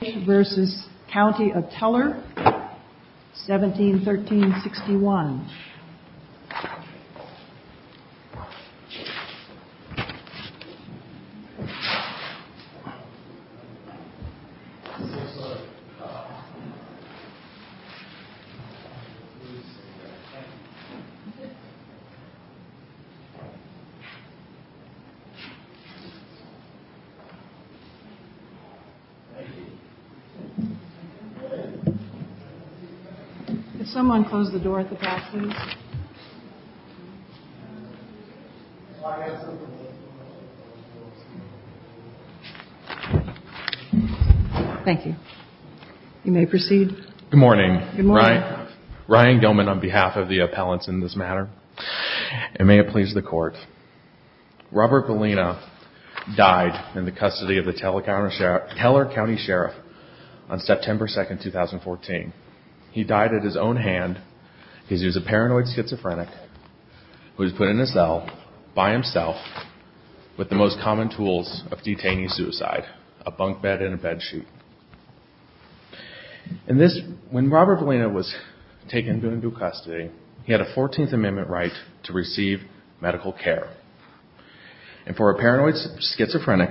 v. County of Teller, 171361. Good morning. Ryan Gellman on behalf of the appellants in this matter. And may it please the court. Robert Vallina died in the custody of the Teller County Sheriff's Office. On September 2, 2014. He died at his own hand. He was a paranoid schizophrenic who was put in a cell by himself with the most common tools of detaining suicide. A bunk bed and a bed sheet. When Robert Vallina was taken into custody, he had a 14th Amendment right to receive medical care. And for a paranoid schizophrenic,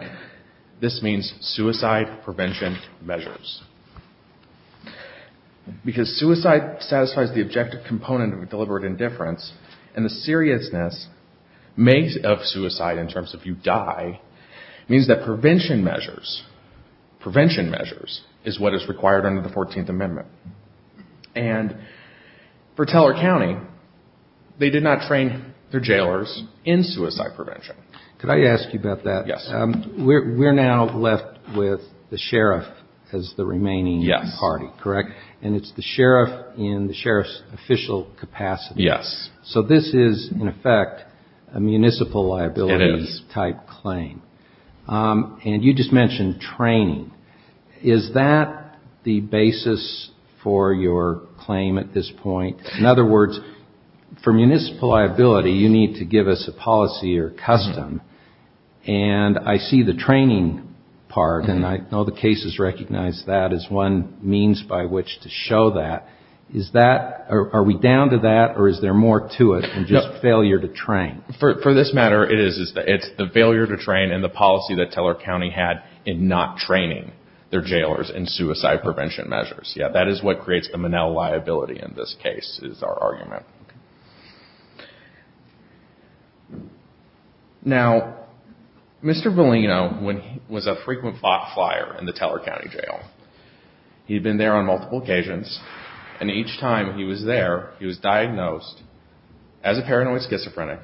this means suicide prevention measures. Because suicide satisfies the objective component of deliberate indifference, and the seriousness of suicide in terms of you die, means that prevention measures is what is required under the 14th Amendment. And for Teller County, they did not train their jailers in suicide prevention. Could I ask you about that? Yes. We're now left with the sheriff as the remaining party, correct? Yes. And it's the sheriff in the sheriff's official capacity. Yes. So this is, in effect, a municipal liabilities type claim. It is. And you just mentioned training. Is that the basis for your claim at this point? In other words, for municipal liability, you need to give us a policy or custom, and I see the training part, and I know the cases recognize that as one means by which to show that. Are we down to that, or is there more to it than just failure to train? For this matter, it is. It's the failure to train and the policy that Teller County had in not training their jailers in suicide prevention measures. Yes, that is what creates the Manelle liability in this case, is our argument. Now, Mr. Bellino was a frequent bot flyer in the Teller County jail. He had been there on multiple occasions, and each time he was there, he was diagnosed as a paranoid schizophrenic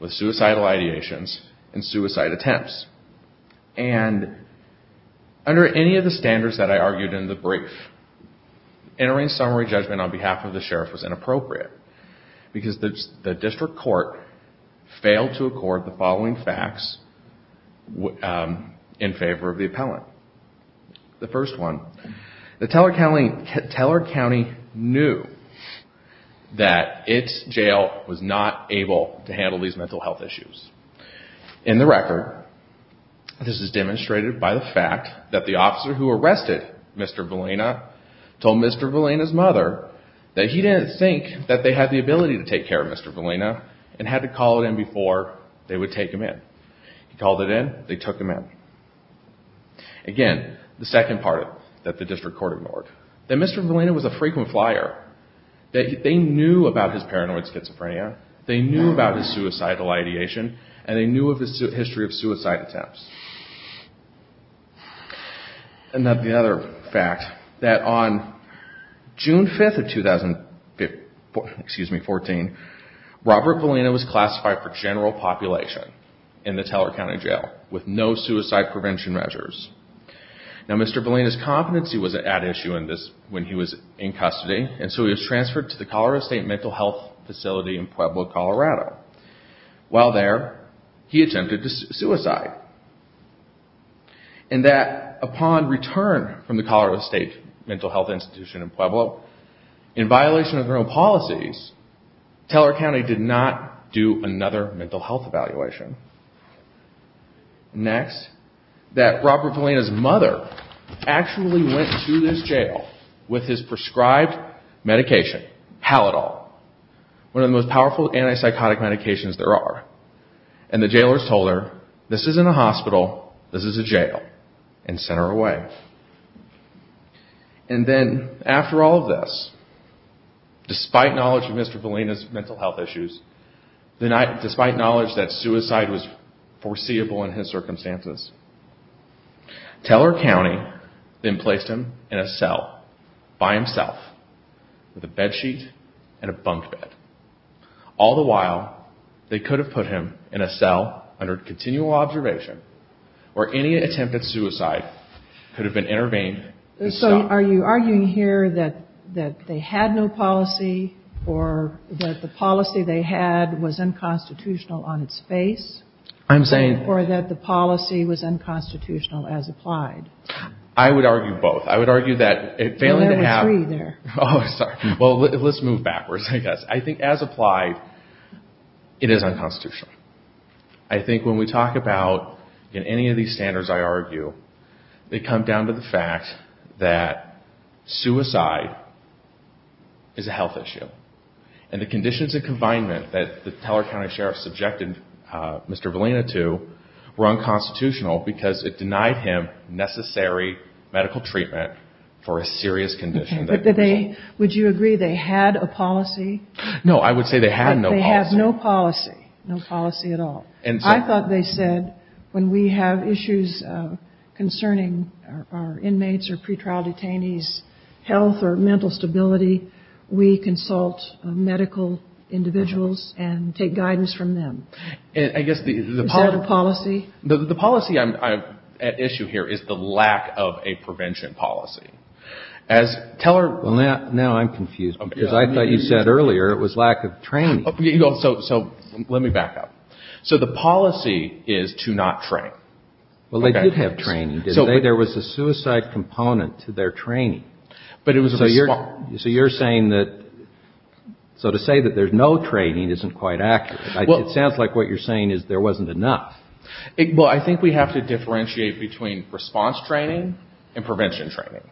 with suicidal ideations and suicide attempts. And under any of the standards that I argued in the brief, entering summary judgment on behalf of the sheriff was inappropriate, because the district court failed to accord the following facts in favor of the appellant. The first one, Teller County knew that its jail was not able to handle these mental health issues. In the record, this is demonstrated by the fact that the officer who arrested Mr. Bellino told Mr. Bellino's mother that he didn't think that they had the ability to take care of Mr. Bellino and had to call it in before they would take him in. He called it in. They took him in. Again, the second part that the district court ignored, that Mr. Bellino was a frequent flyer. They knew about his paranoid schizophrenia. They knew about his suicidal ideation, and they knew of his history of suicide attempts. And the other fact, that on June 5th of 2014, Robert Bellino was classified for general population in the Teller County jail with no suicide prevention measures. Now Mr. Bellino's competency was at issue when he was in custody, and so he was transferred to the Colorado State Mental Health Facility in Pueblo, Colorado. While there, he attempted to suicide. And that upon return from the Colorado State Mental Health Institution in Pueblo, in violation of their own policies, Teller County did not do another mental health evaluation. Next, that Robert Bellino's mother actually went to this jail with his prescribed medication, Halitol, one of the most powerful antipsychotic medications there are. And the jailers told her, this isn't a hospital, this is a jail, and sent her away. And then, after all of this, despite knowledge of Mr. Bellino's mental health issues, despite knowledge that suicide was foreseeable in his circumstances, Teller County then placed him in a cell, by himself, with a bed sheet and a bunk bed. All the while, they could have put him in a cell under continual observation, or any attempt at suicide could have been intervened. So are you arguing here that they had no policy, or that the policy they had was unconstitutional on its face? I'm saying... Or that the policy was unconstitutional as applied? I would argue both. I would argue that failing to have... Well, there were three there. Well, let's move backwards, I guess. I think as applied, it is unconstitutional. I think when we talk about, in any of these standards I argue, they come down to the fact that suicide is a health issue. And the conditions of confinement that the Teller County Sheriff subjected Mr. Bellino to were unconstitutional, because it denied him necessary medical treatment for a serious condition. Would you agree they had a policy? No, I would say they had no policy. They had no policy, no policy at all. I thought they said, when we have issues concerning our inmates or pretrial detainees' health or mental stability, we consult medical individuals and take guidance from them. Is that a policy? The policy at issue here is the lack of a prevention policy. Teller... Well, now I'm confused, because I thought you said earlier it was lack of training. So let me back up. So the policy is to not train. Well, they did have training, didn't they? There was a suicide component to their training. But it was a response... So you're saying that... So to say that there's no training isn't quite accurate. It sounds like what you're saying is there wasn't enough. Well, I think we have to differentiate between response training and prevention training.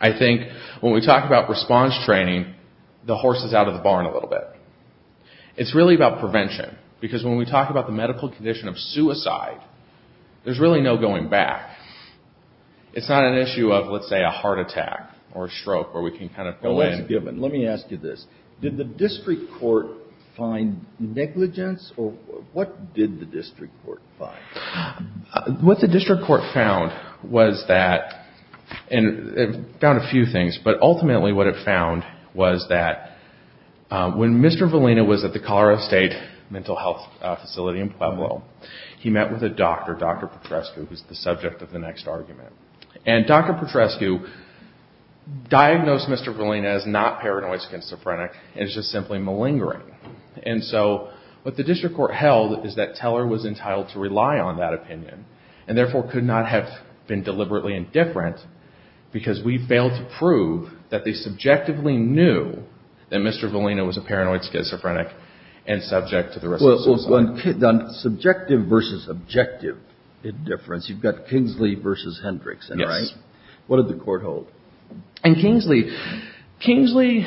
I think when we talk about response training, the horse is out of the barn a little bit. It's really about prevention, because when we talk about the medical condition of suicide, there's really no going back. It's not an issue of, let's say, a heart attack or a stroke where we can kind of go in... Let me ask you this. Did the district court find negligence? Or what did the district court find? What the district court found was that... It found a few things, but ultimately what it found was that when Mr. Valina was at the Colorado State Mental Health Facility in Pueblo, he met with a doctor, Dr. Petrescu, who's the subject of the next argument. And Dr. Petrescu diagnosed Mr. Valina as not paranoid schizophrenic and is just simply malingering. And so what the district court held is that Teller was entitled to rely on that opinion and therefore could not have been deliberately indifferent, because we failed to prove that they subjectively knew that Mr. Valina was a paranoid schizophrenic and subject to the risk of suicide. So on subjective versus objective indifference, you've got Kingsley versus Hendrickson, right? Yes. What did the court hold? In Kingsley, Kingsley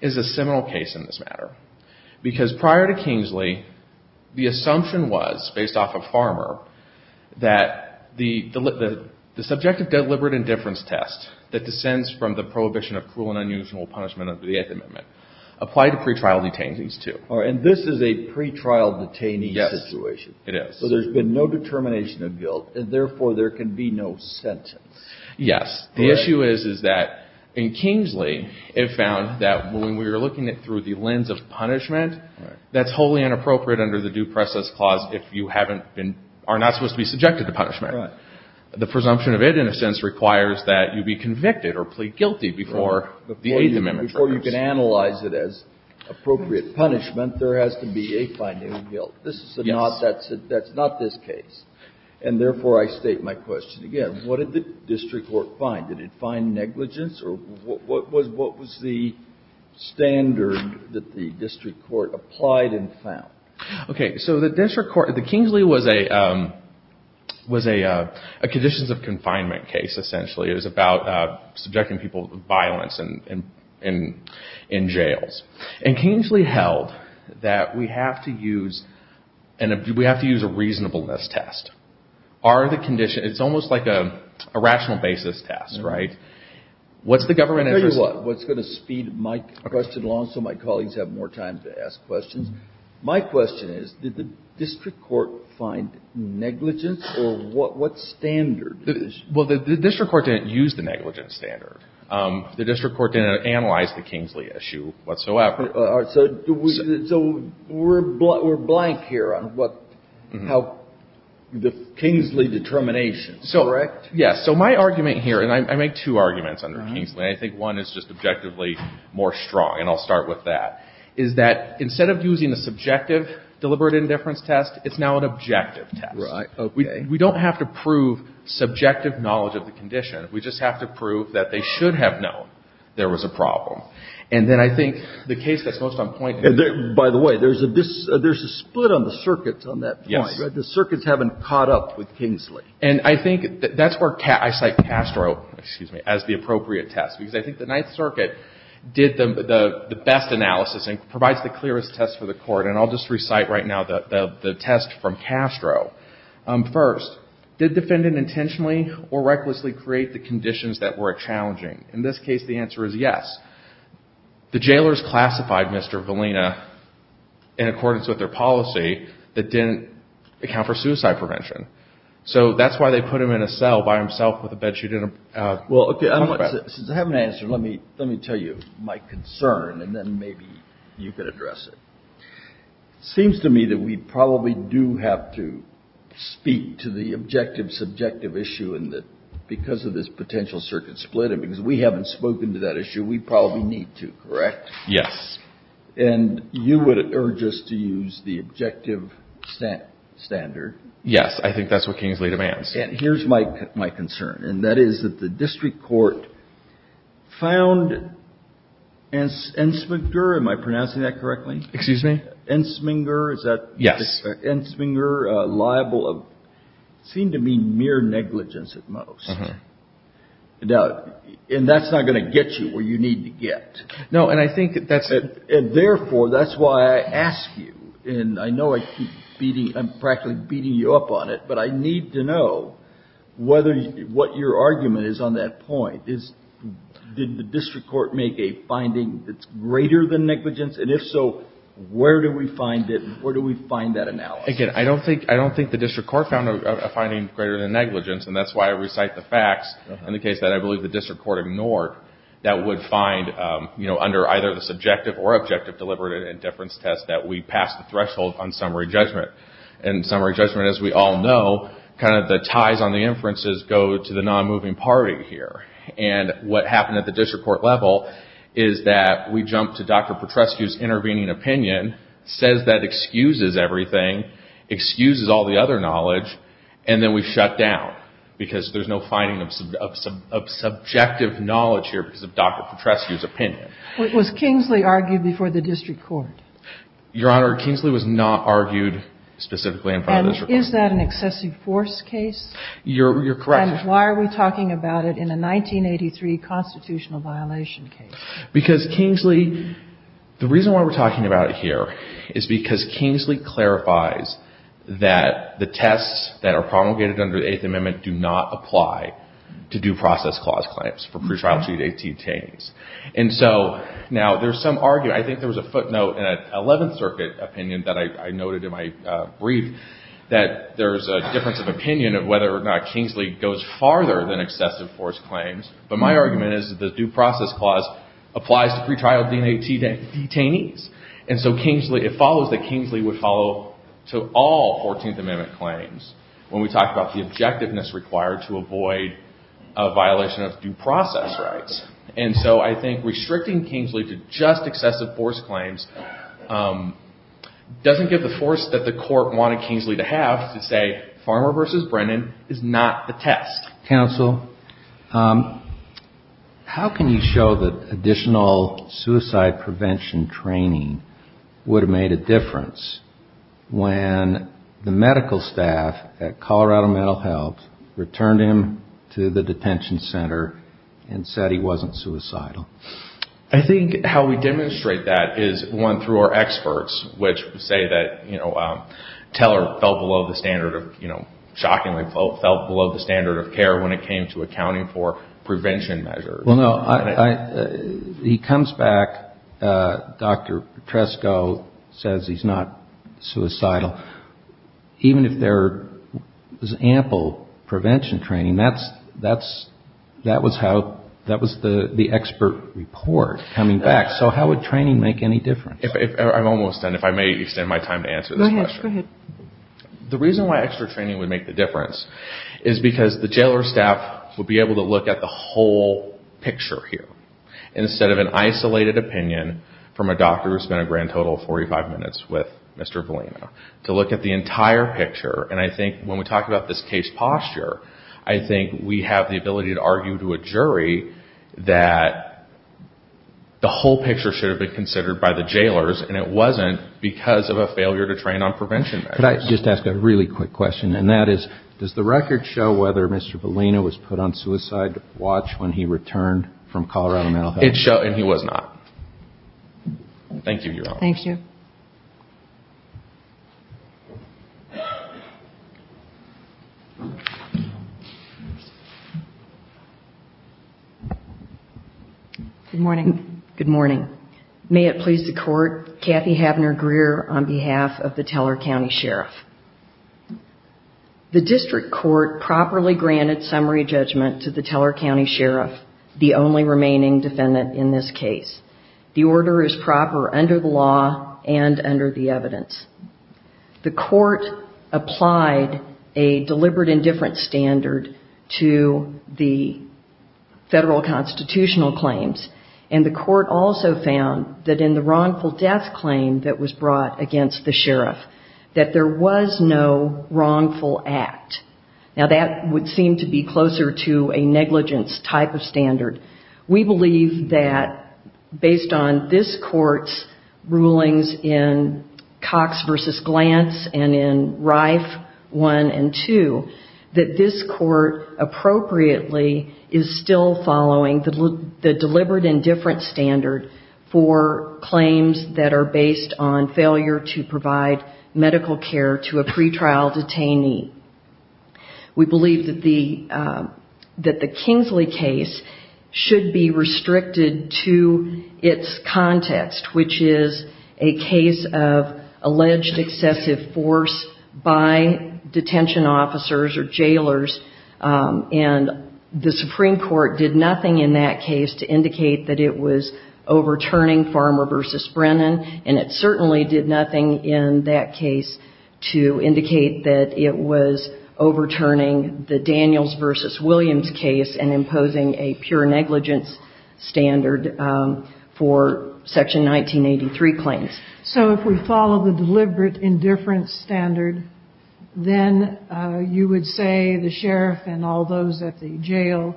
is a seminal case in this matter, because prior to Kingsley, the assumption was, based off of Farmer, that the subjective deliberate indifference test that descends from the prohibition of cruel and unusual punishment under the Eighth Amendment applied to pretrial detainees, too. All right. And this is a pretrial detainee situation. Yes, it is. So there's been no determination of guilt, and therefore there can be no sentence. Yes. The issue is, is that in Kingsley, it found that when we were looking at it through the lens of punishment, that's wholly inappropriate under the Due Process Clause if you haven't been or are not supposed to be subjected to punishment. Right. The presumption of it, in a sense, requires that you be convicted or plead guilty before the Eighth Amendment. Before you can analyze it as appropriate punishment, there has to be a finding of guilt. Yes. That's not this case. And therefore, I state my question again. What did the district court find? Did it find negligence? Or what was the standard that the district court applied and found? Okay. So the district court, the Kingsley was a conditions of confinement case, essentially. It was about subjecting people to violence in jails. And Kingsley held that we have to use a reasonableness test. It's almost like a rational basis test, right? I'll tell you what. What's going to speed my question along so my colleagues have more time to ask questions. My question is, did the district court find negligence? Or what standard? Well, the district court didn't use the negligence standard. The district court didn't analyze the Kingsley issue whatsoever. So we're blank here on how the Kingsley determination, correct? Yes. So my argument here, and I make two arguments under Kingsley, and I think one is just objectively more strong, and I'll start with that, is that instead of using the subjective deliberate indifference test, it's now an objective test. Right. Okay. And we don't have to prove subjective knowledge of the condition. We just have to prove that they should have known there was a problem. And then I think the case that's most on point here — By the way, there's a split on the circuits on that point. Yes. The circuits haven't caught up with Kingsley. And I think that's where I cite Castro, excuse me, as the appropriate test. Because I think the Ninth Circuit did the best analysis and provides the clearest test for the Court. And I'll just recite right now the test from Castro. First, did defendant intentionally or recklessly create the conditions that were challenging? In this case, the answer is yes. The jailers classified Mr. Valina in accordance with their policy that didn't account for suicide prevention. So that's why they put him in a cell by himself with a bed sheet and a pillow. Well, okay, since I have an answer, let me tell you my concern, and then maybe you could address it. It seems to me that we probably do have to speak to the objective subjective issue in that because of this potential circuit split and because we haven't spoken to that issue, we probably need to, correct? Yes. And you would urge us to use the objective standard? Yes, I think that's what Kingsley demands. And here's my concern, and that is that the district court found Ensminger, am I pronouncing that correctly? Excuse me? Ensminger, is that? Yes. Ensminger liable of, it seemed to me mere negligence at most. And that's not going to get you where you need to get. No, and I think that's it. And therefore, that's why I ask you, and I know I keep beating, I'm practically beating you up on it, but I need to know what your argument is on that point. Did the district court make a finding that's greater than negligence? And if so, where do we find it? Where do we find that analysis? Again, I don't think the district court found a finding greater than negligence, and that's why I recite the facts. In the case that I believe the district court ignored, that would find, you know, under either the subjective or objective deliberate indifference test that we pass the threshold on summary judgment. And summary judgment, as we all know, kind of the ties on the inferences go to the non-moving party here. And what happened at the district court level is that we jump to Dr. Petrescu's intervening opinion, says that excuses everything, excuses all the other knowledge, and then we shut down, because there's no finding of subjective knowledge here because of Dr. Petrescu's opinion. Was Kingsley argued before the district court? Your Honor, Kingsley was not argued specifically in front of the district court. And is that an excessive force case? You're correct. And why are we talking about it in a 1983 constitutional violation case? Because Kingsley, the reason why we're talking about it here is because Kingsley clarifies that the tests that are promulgated under the Eighth Amendment do not apply to due process clause claims for pretrial duty detainees. And so now there's some argument. I think there was a footnote in an Eleventh Circuit opinion that I noted in my brief that there's a difference of opinion of whether or not Kingsley goes farther than excessive force claims. But my argument is that the due process clause applies to pretrial D&A detainees. And so it follows that Kingsley would follow to all Fourteenth Amendment claims when we talk about the objectiveness required to avoid a violation of due process rights. And so I think restricting Kingsley to just excessive force claims doesn't give the force that the court wanted Kingsley to have to say Farmer v. Brennan is not the test. Counsel, how can you show that additional suicide prevention training would have made a difference when the medical staff at Colorado Mental Health returned him to the detention center and said he wasn't suicidal? I think how we demonstrate that is, one, through our experts, which say that, you know, Teller fell below the standard of, you know, shockingly fell below the standard of care when it came to accounting for prevention measures. Well, no. He comes back. Dr. Petresco says he's not suicidal. Even if there was ample prevention training, that's, that's, that was how, that was the expert report coming back. So how would training make any difference? I'm almost done. If I may extend my time to answer this question. Go ahead. The reason why extra training would make the difference is because the jailer's staff would be able to look at the whole picture here instead of an isolated opinion from a doctor who spent a grand total of 45 minutes with Mr. Valino. To look at the entire picture. And I think when we talk about this case posture, I think we have the ability to argue to a jury that the whole picture should have been considered by the jailers and it wasn't because of a failure to train on prevention measures. Could I just ask a really quick question? And that is, does the record show whether Mr. Valino was put on suicide watch when he returned from Colorado Mental Health? It shows, and he was not. Thank you, Your Honor. Thank you. Good morning. Good morning. May it please the Court, Kathy Habner Greer on behalf of the Teller County Sheriff. The district court properly granted summary judgment to the Teller County Sheriff, the only remaining defendant in this case. The order is proper under the law and under the evidence. The court applied a deliberate indifference standard to the federal constitutional claims. And the court also found that in the wrongful death claim that was brought against the sheriff, that there was no wrongful act. Now, that would seem to be closer to a negligence type of standard. We believe that based on this court's rulings in Cox v. Glantz and in Rife 1 and 2, that this court appropriately is still following the deliberate indifference standard for claims that are based on failure to provide medical care to a pretrial detainee. We believe that the Kingsley case should be restricted to its context, which is a case of alleged excessive force by detention officers or jailers. And the Supreme Court did nothing in that case to indicate that it was overturning Farmer v. Brennan. And it certainly did nothing in that case to indicate that it was overturning the Daniels v. Williams case and imposing a pure negligence standard for Section 1983 claims. So if we follow the deliberate indifference standard, then you would say the sheriff and all those at the jail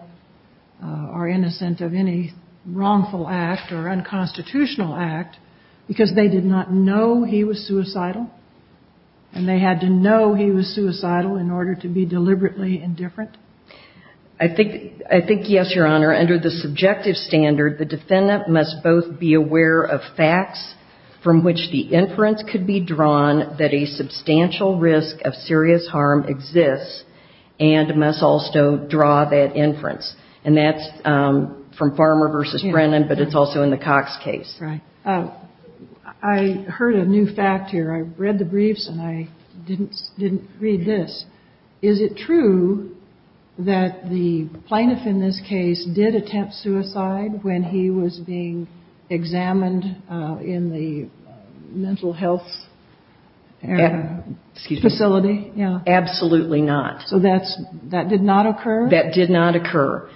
are innocent of any wrongful act or unconstitutional act. Because they did not know he was suicidal, and they had to know he was suicidal in order to be deliberately indifferent? I think yes, Your Honor. Under the subjective standard, the defendant must both be aware of facts from which the inference could be drawn that a substantial risk of serious harm exists and must also draw that inference. And that's from Farmer v. Brennan, but it's also in the Cox case. Right. I heard a new fact here. I read the briefs and I didn't read this. Is it true that the plaintiff in this case did attempt suicide when he was being examined in the mental health facility? Absolutely not. So that did not occur? That did not occur.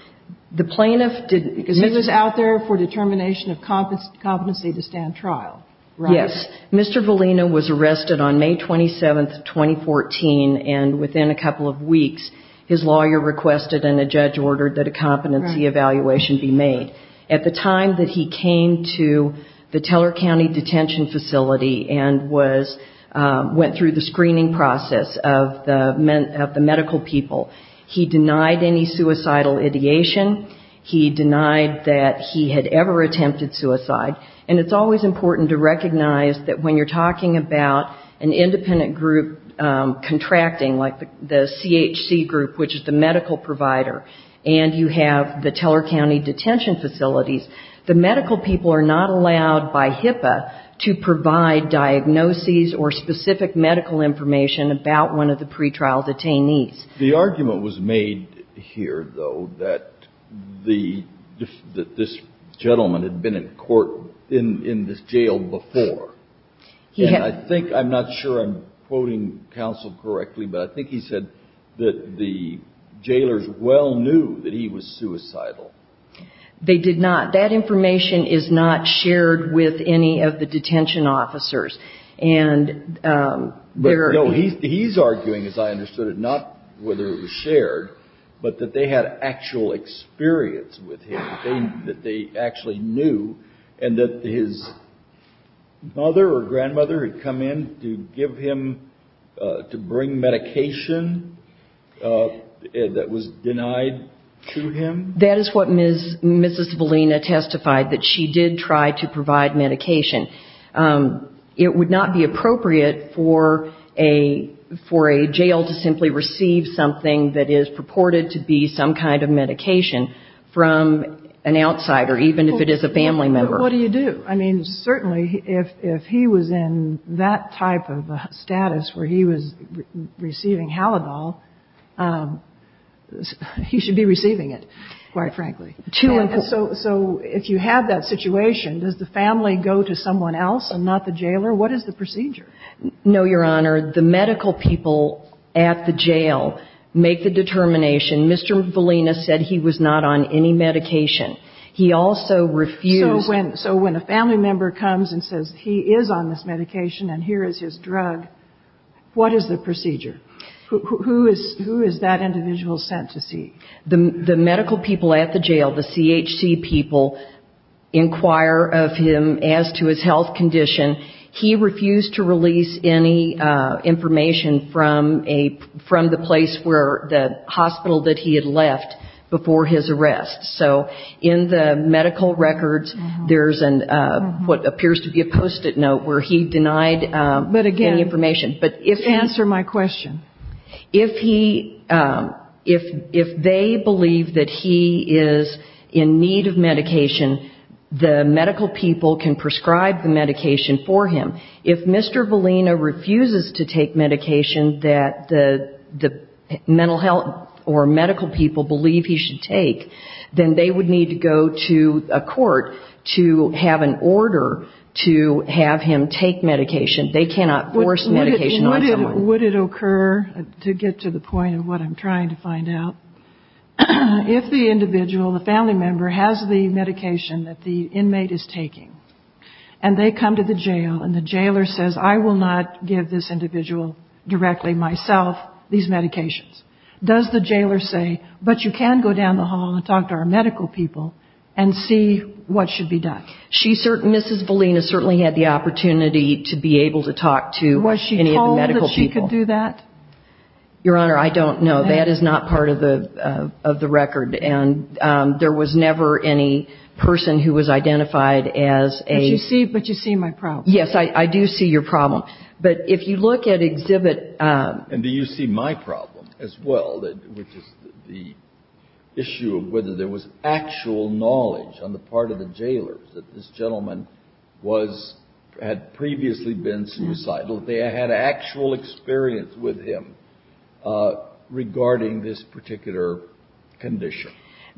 He was out there for determination of competency to stand trial, right? Yes. Mr. Valina was arrested on May 27, 2014, and within a couple of weeks, his lawyer requested and a judge ordered that a competency evaluation be made. At the time that he came to the Teller County Detention Facility and went through the screening process of the medical people, he denied any suicidal ideation. He denied that he had ever attempted suicide. And it's always important to recognize that when you're talking about an independent group contracting, like the CHC group, which is the medical provider, and you have the Teller County Detention Facilities, the medical people are not allowed by HIPAA to provide diagnoses or specific medical information about one of the pretrial detainees. The argument was made here, though, that this gentleman had been in court in this jail before. And I think, I'm not sure I'm quoting counsel correctly, but I think he said that the jailers well knew that he was suicidal. They did not. That information is not shared with any of the detention officers. But, no, he's arguing, as I understood it, not whether it was shared, but that they had actual experience with him, that they actually knew, and that his mother or grandmother had come in to give him, to bring medication that was denied to him. That is what Mrs. Valina testified, that she did try to provide medication. It would not be appropriate for a jail to simply receive something that is purported to be some kind of medication from an outsider, even if it is a family member. But what do you do? I mean, certainly, if he was in that type of a status where he was receiving Haladol, he should be receiving it, quite frankly. So if you have that situation, does the family go to someone else and not the jailer? What is the procedure? No, Your Honor. The medical people at the jail make the determination. Mr. Valina said he was not on any medication. He also refused. So when a family member comes and says he is on this medication and here is his drug, what is the procedure? Who is that individual sent to see? The medical people at the jail, the CHC people, inquire of him as to his health condition. He refused to release any information from the place where the hospital that he had left before his arrest. So in the medical records, there is what appears to be a post-it note where he denied any information. But again, answer my question. If they believe that he is in need of medication, the medical people can prescribe the medication for him. If Mr. Valina refuses to take medication that the mental health or medical people believe he should take, then they would need to go to a court to have an order to have him take medication. They cannot force medication on someone. Would it occur, to get to the point of what I'm trying to find out, if the individual, the family member, has the medication that the inmate is taking and they come to the jail and the jailer says, I will not give this individual directly myself these medications, does the jailer say, but you can go down the hall and talk to our medical people and see what should be done? Mrs. Valina certainly had the opportunity to be able to talk to any of the medical people. Was she told that she could do that? Your Honor, I don't know. That is not part of the record. And there was never any person who was identified as a – But you see my problem. Yes, I do see your problem. But if you look at exhibit – And do you see my problem as well, which is the issue of whether there was actual knowledge on the part of the jailer that this gentleman was – had previously been suicidal, that they had actual experience with him regarding this particular condition?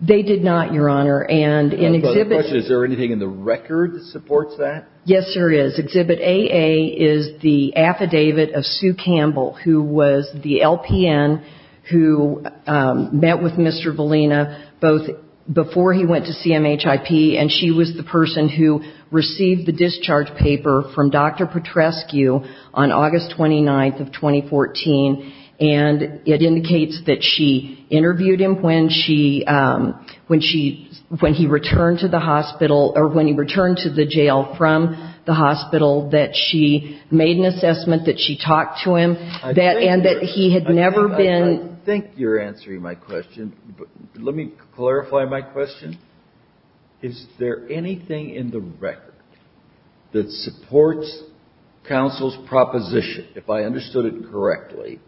They did not, Your Honor. And in exhibit – Is there anything in the record that supports that? Yes, there is. Exhibit AA is the affidavit of Sue Campbell, who was the LPN who met with Mr. Valina both before he went to CMHIP, and she was the person who received the discharge paper from Dr. Petrescu on August 29th of 2014. And it indicates that she interviewed him when he returned to the hospital – or when he returned to the jail from the hospital, that she made an assessment that she talked to him, and that he had never been – I think you're answering my question. Let me clarify my question. Is there anything in the record that supports counsel's proposition, if I understood it correctly,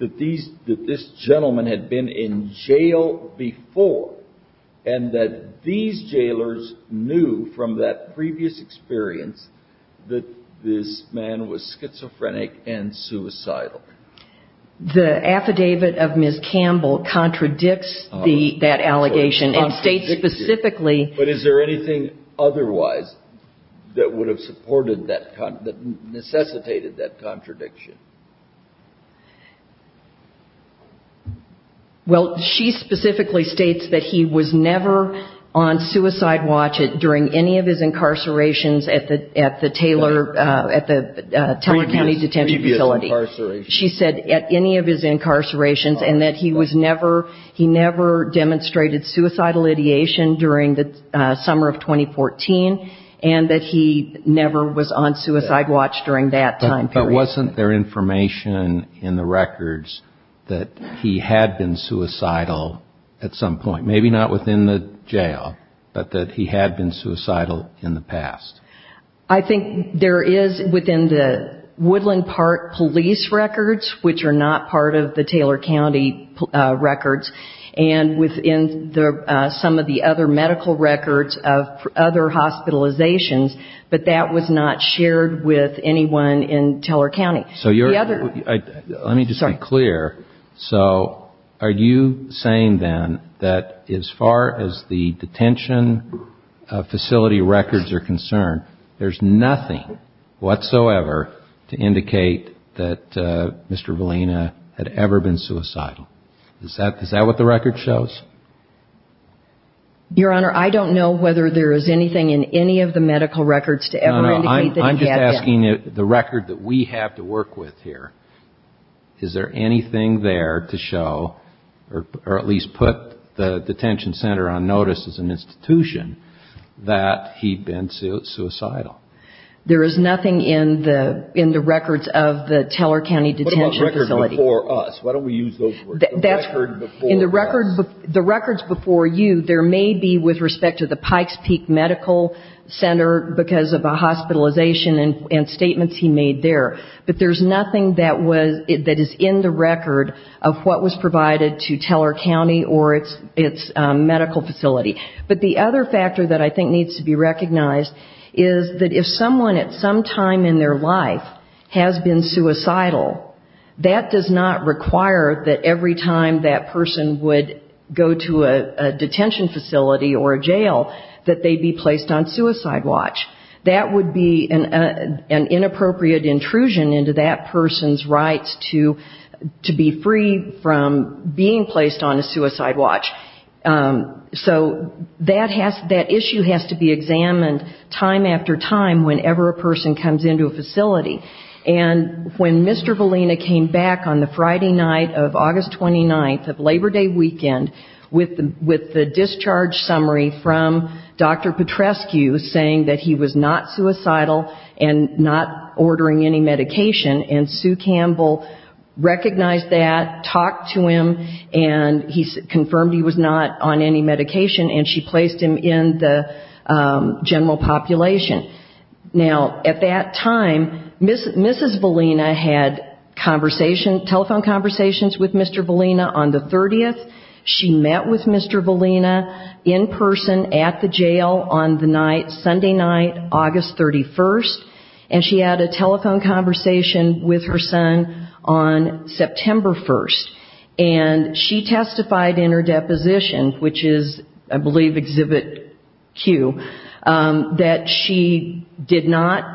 that these – that this gentleman had been in jail before, and that these jailers knew from that previous experience that this man was schizophrenic and suicidal? The affidavit of Ms. Campbell contradicts the – that allegation and states specifically – Well, she specifically states that he was never on suicide watch during any of his incarcerations at the Taylor County Detention Facility. She said at any of his incarcerations, and that he was never – he never demonstrated suicidal ideation during the summer of 2014, and that he never was on suicide watch during that time period. But wasn't there information in the records that he had been suicidal at some point? Maybe not within the jail, but that he had been suicidal in the past. I think there is within the Woodland Park police records, which are not part of the Taylor County records, and within some of the other medical records of other hospitalizations, but that was not shared with anyone in Taylor County. So you're – let me just be clear. So are you saying, then, that as far as the detention facility records are concerned, there's nothing whatsoever to indicate that Mr. Valina had ever been suicidal? Is that what the record shows? Your Honor, I don't know whether there is anything in any of the medical records to ever indicate that he had been. I'm just asking the record that we have to work with here. Is there anything there to show, or at least put the detention center on notice as an institution, that he'd been suicidal? There is nothing in the records of the Taylor County Detention Facility. The records before us. Why don't we use those words? In the records before you, there may be, with respect to the Pikes Peak Medical Center, because of a hospitalization and statements he made there, but there's nothing that is in the record of what was provided to Taylor County or its medical facility. But the other factor that I think needs to be recognized is that if someone at some time in their life has been suicidal, that does not require that every time that person would go to a detention facility or a jail, that they be placed on suicide watch. That would be an inappropriate intrusion into that person's rights to be free from being placed on a suicide watch. So that issue has to be examined time after time whenever a person comes into a facility. And when Mr. Valina came back on the Friday night of August 29th of Labor Day weekend, with the discharge summary from Dr. Petrescu saying that he was not suicidal and not ordering any medication, and Sue Campbell recognized that, talked to him, and he confirmed he was not on any medication, and she placed him in the general population. Now, at that time, Mrs. Valina had telephone conversations with Mr. Valina on the 30th. She met with Mr. Valina in person at the jail on the night, Sunday night, August 31st, and she had a telephone conversation with her son on September 1st. And she testified in her deposition, which is, I believe, Exhibit Q, that she did not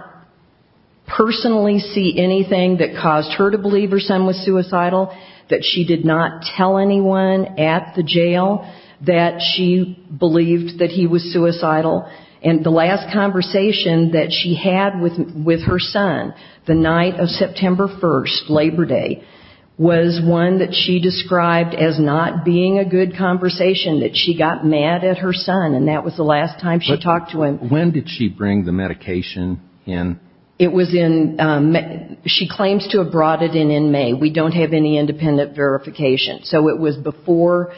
personally see anything that caused her to believe her son was suicidal, that she did not tell anyone at the jail that she believed that he was suicidal. And the last conversation that she had with her son the night of September 1st, Labor Day, was one that she described as not being a good conversation, that she got mad at her son, and that was the last time she talked to him. When did she bring the medication in? It was in May. She claims to have brought it in in May. We don't have any independent verification. So it was before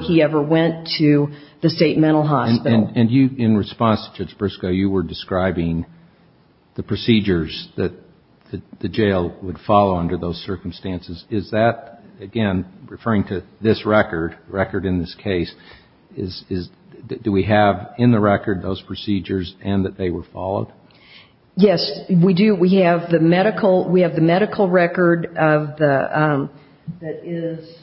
he ever went to the state mental hospital. And you, in response to Judge Briscoe, you were describing the procedures that the jail would follow under those circumstances. Is that, again, referring to this record, record in this case, do we have in the record those procedures and that they were followed? Yes, we do. We have the medical record that is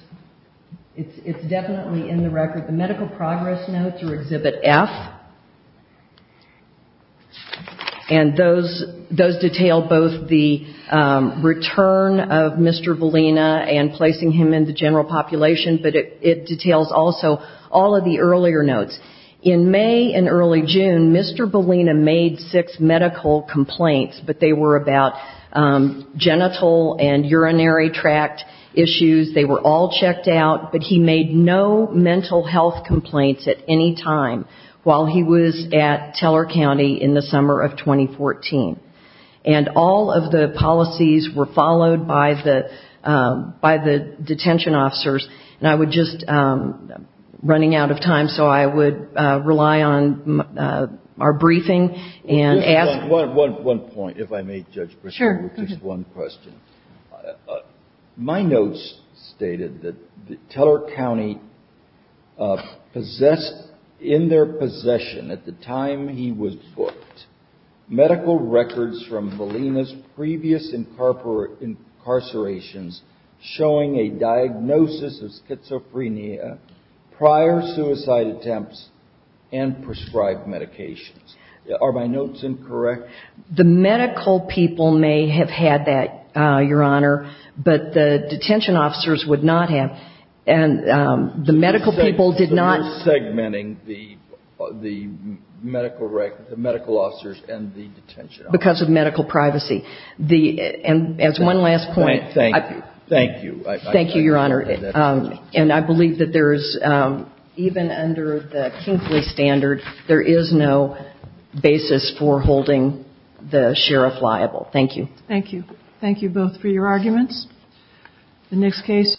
definitely in the record. The medical progress notes are Exhibit F, and those detail both the return of Mr. Bellina and placing him in the general population, but it details also all of the earlier notes. In May and early June, Mr. Bellina made six medical complaints, but they were about genital and urinary tract issues. They were all checked out, but he made no mental health complaints at any time while he was at Teller County in the summer of 2014. And all of the policies were followed by the detention officers. And I would just, running out of time, so I would rely on our briefing and ask. One point, if I may, Judge Briscoe. Sure. Just one question. My notes stated that Teller County possessed, in their possession at the time he was booked, medical records from Bellina's previous incarcerations showing a diagnosis of schizophrenia, prior suicide attempts, and prescribed medications. Are my notes incorrect? The medical people may have had that, Your Honor, but the detention officers would not have. And the medical people did not. So you're segmenting the medical officers and the detention officers. Because of medical privacy. And as one last point. Thank you. Thank you. Thank you, Your Honor. And I believe that there is, even under the Kinkley standard, there is no basis for holding the sheriff liable. Thank you. Thank you. Thank you both for your arguments. The next case.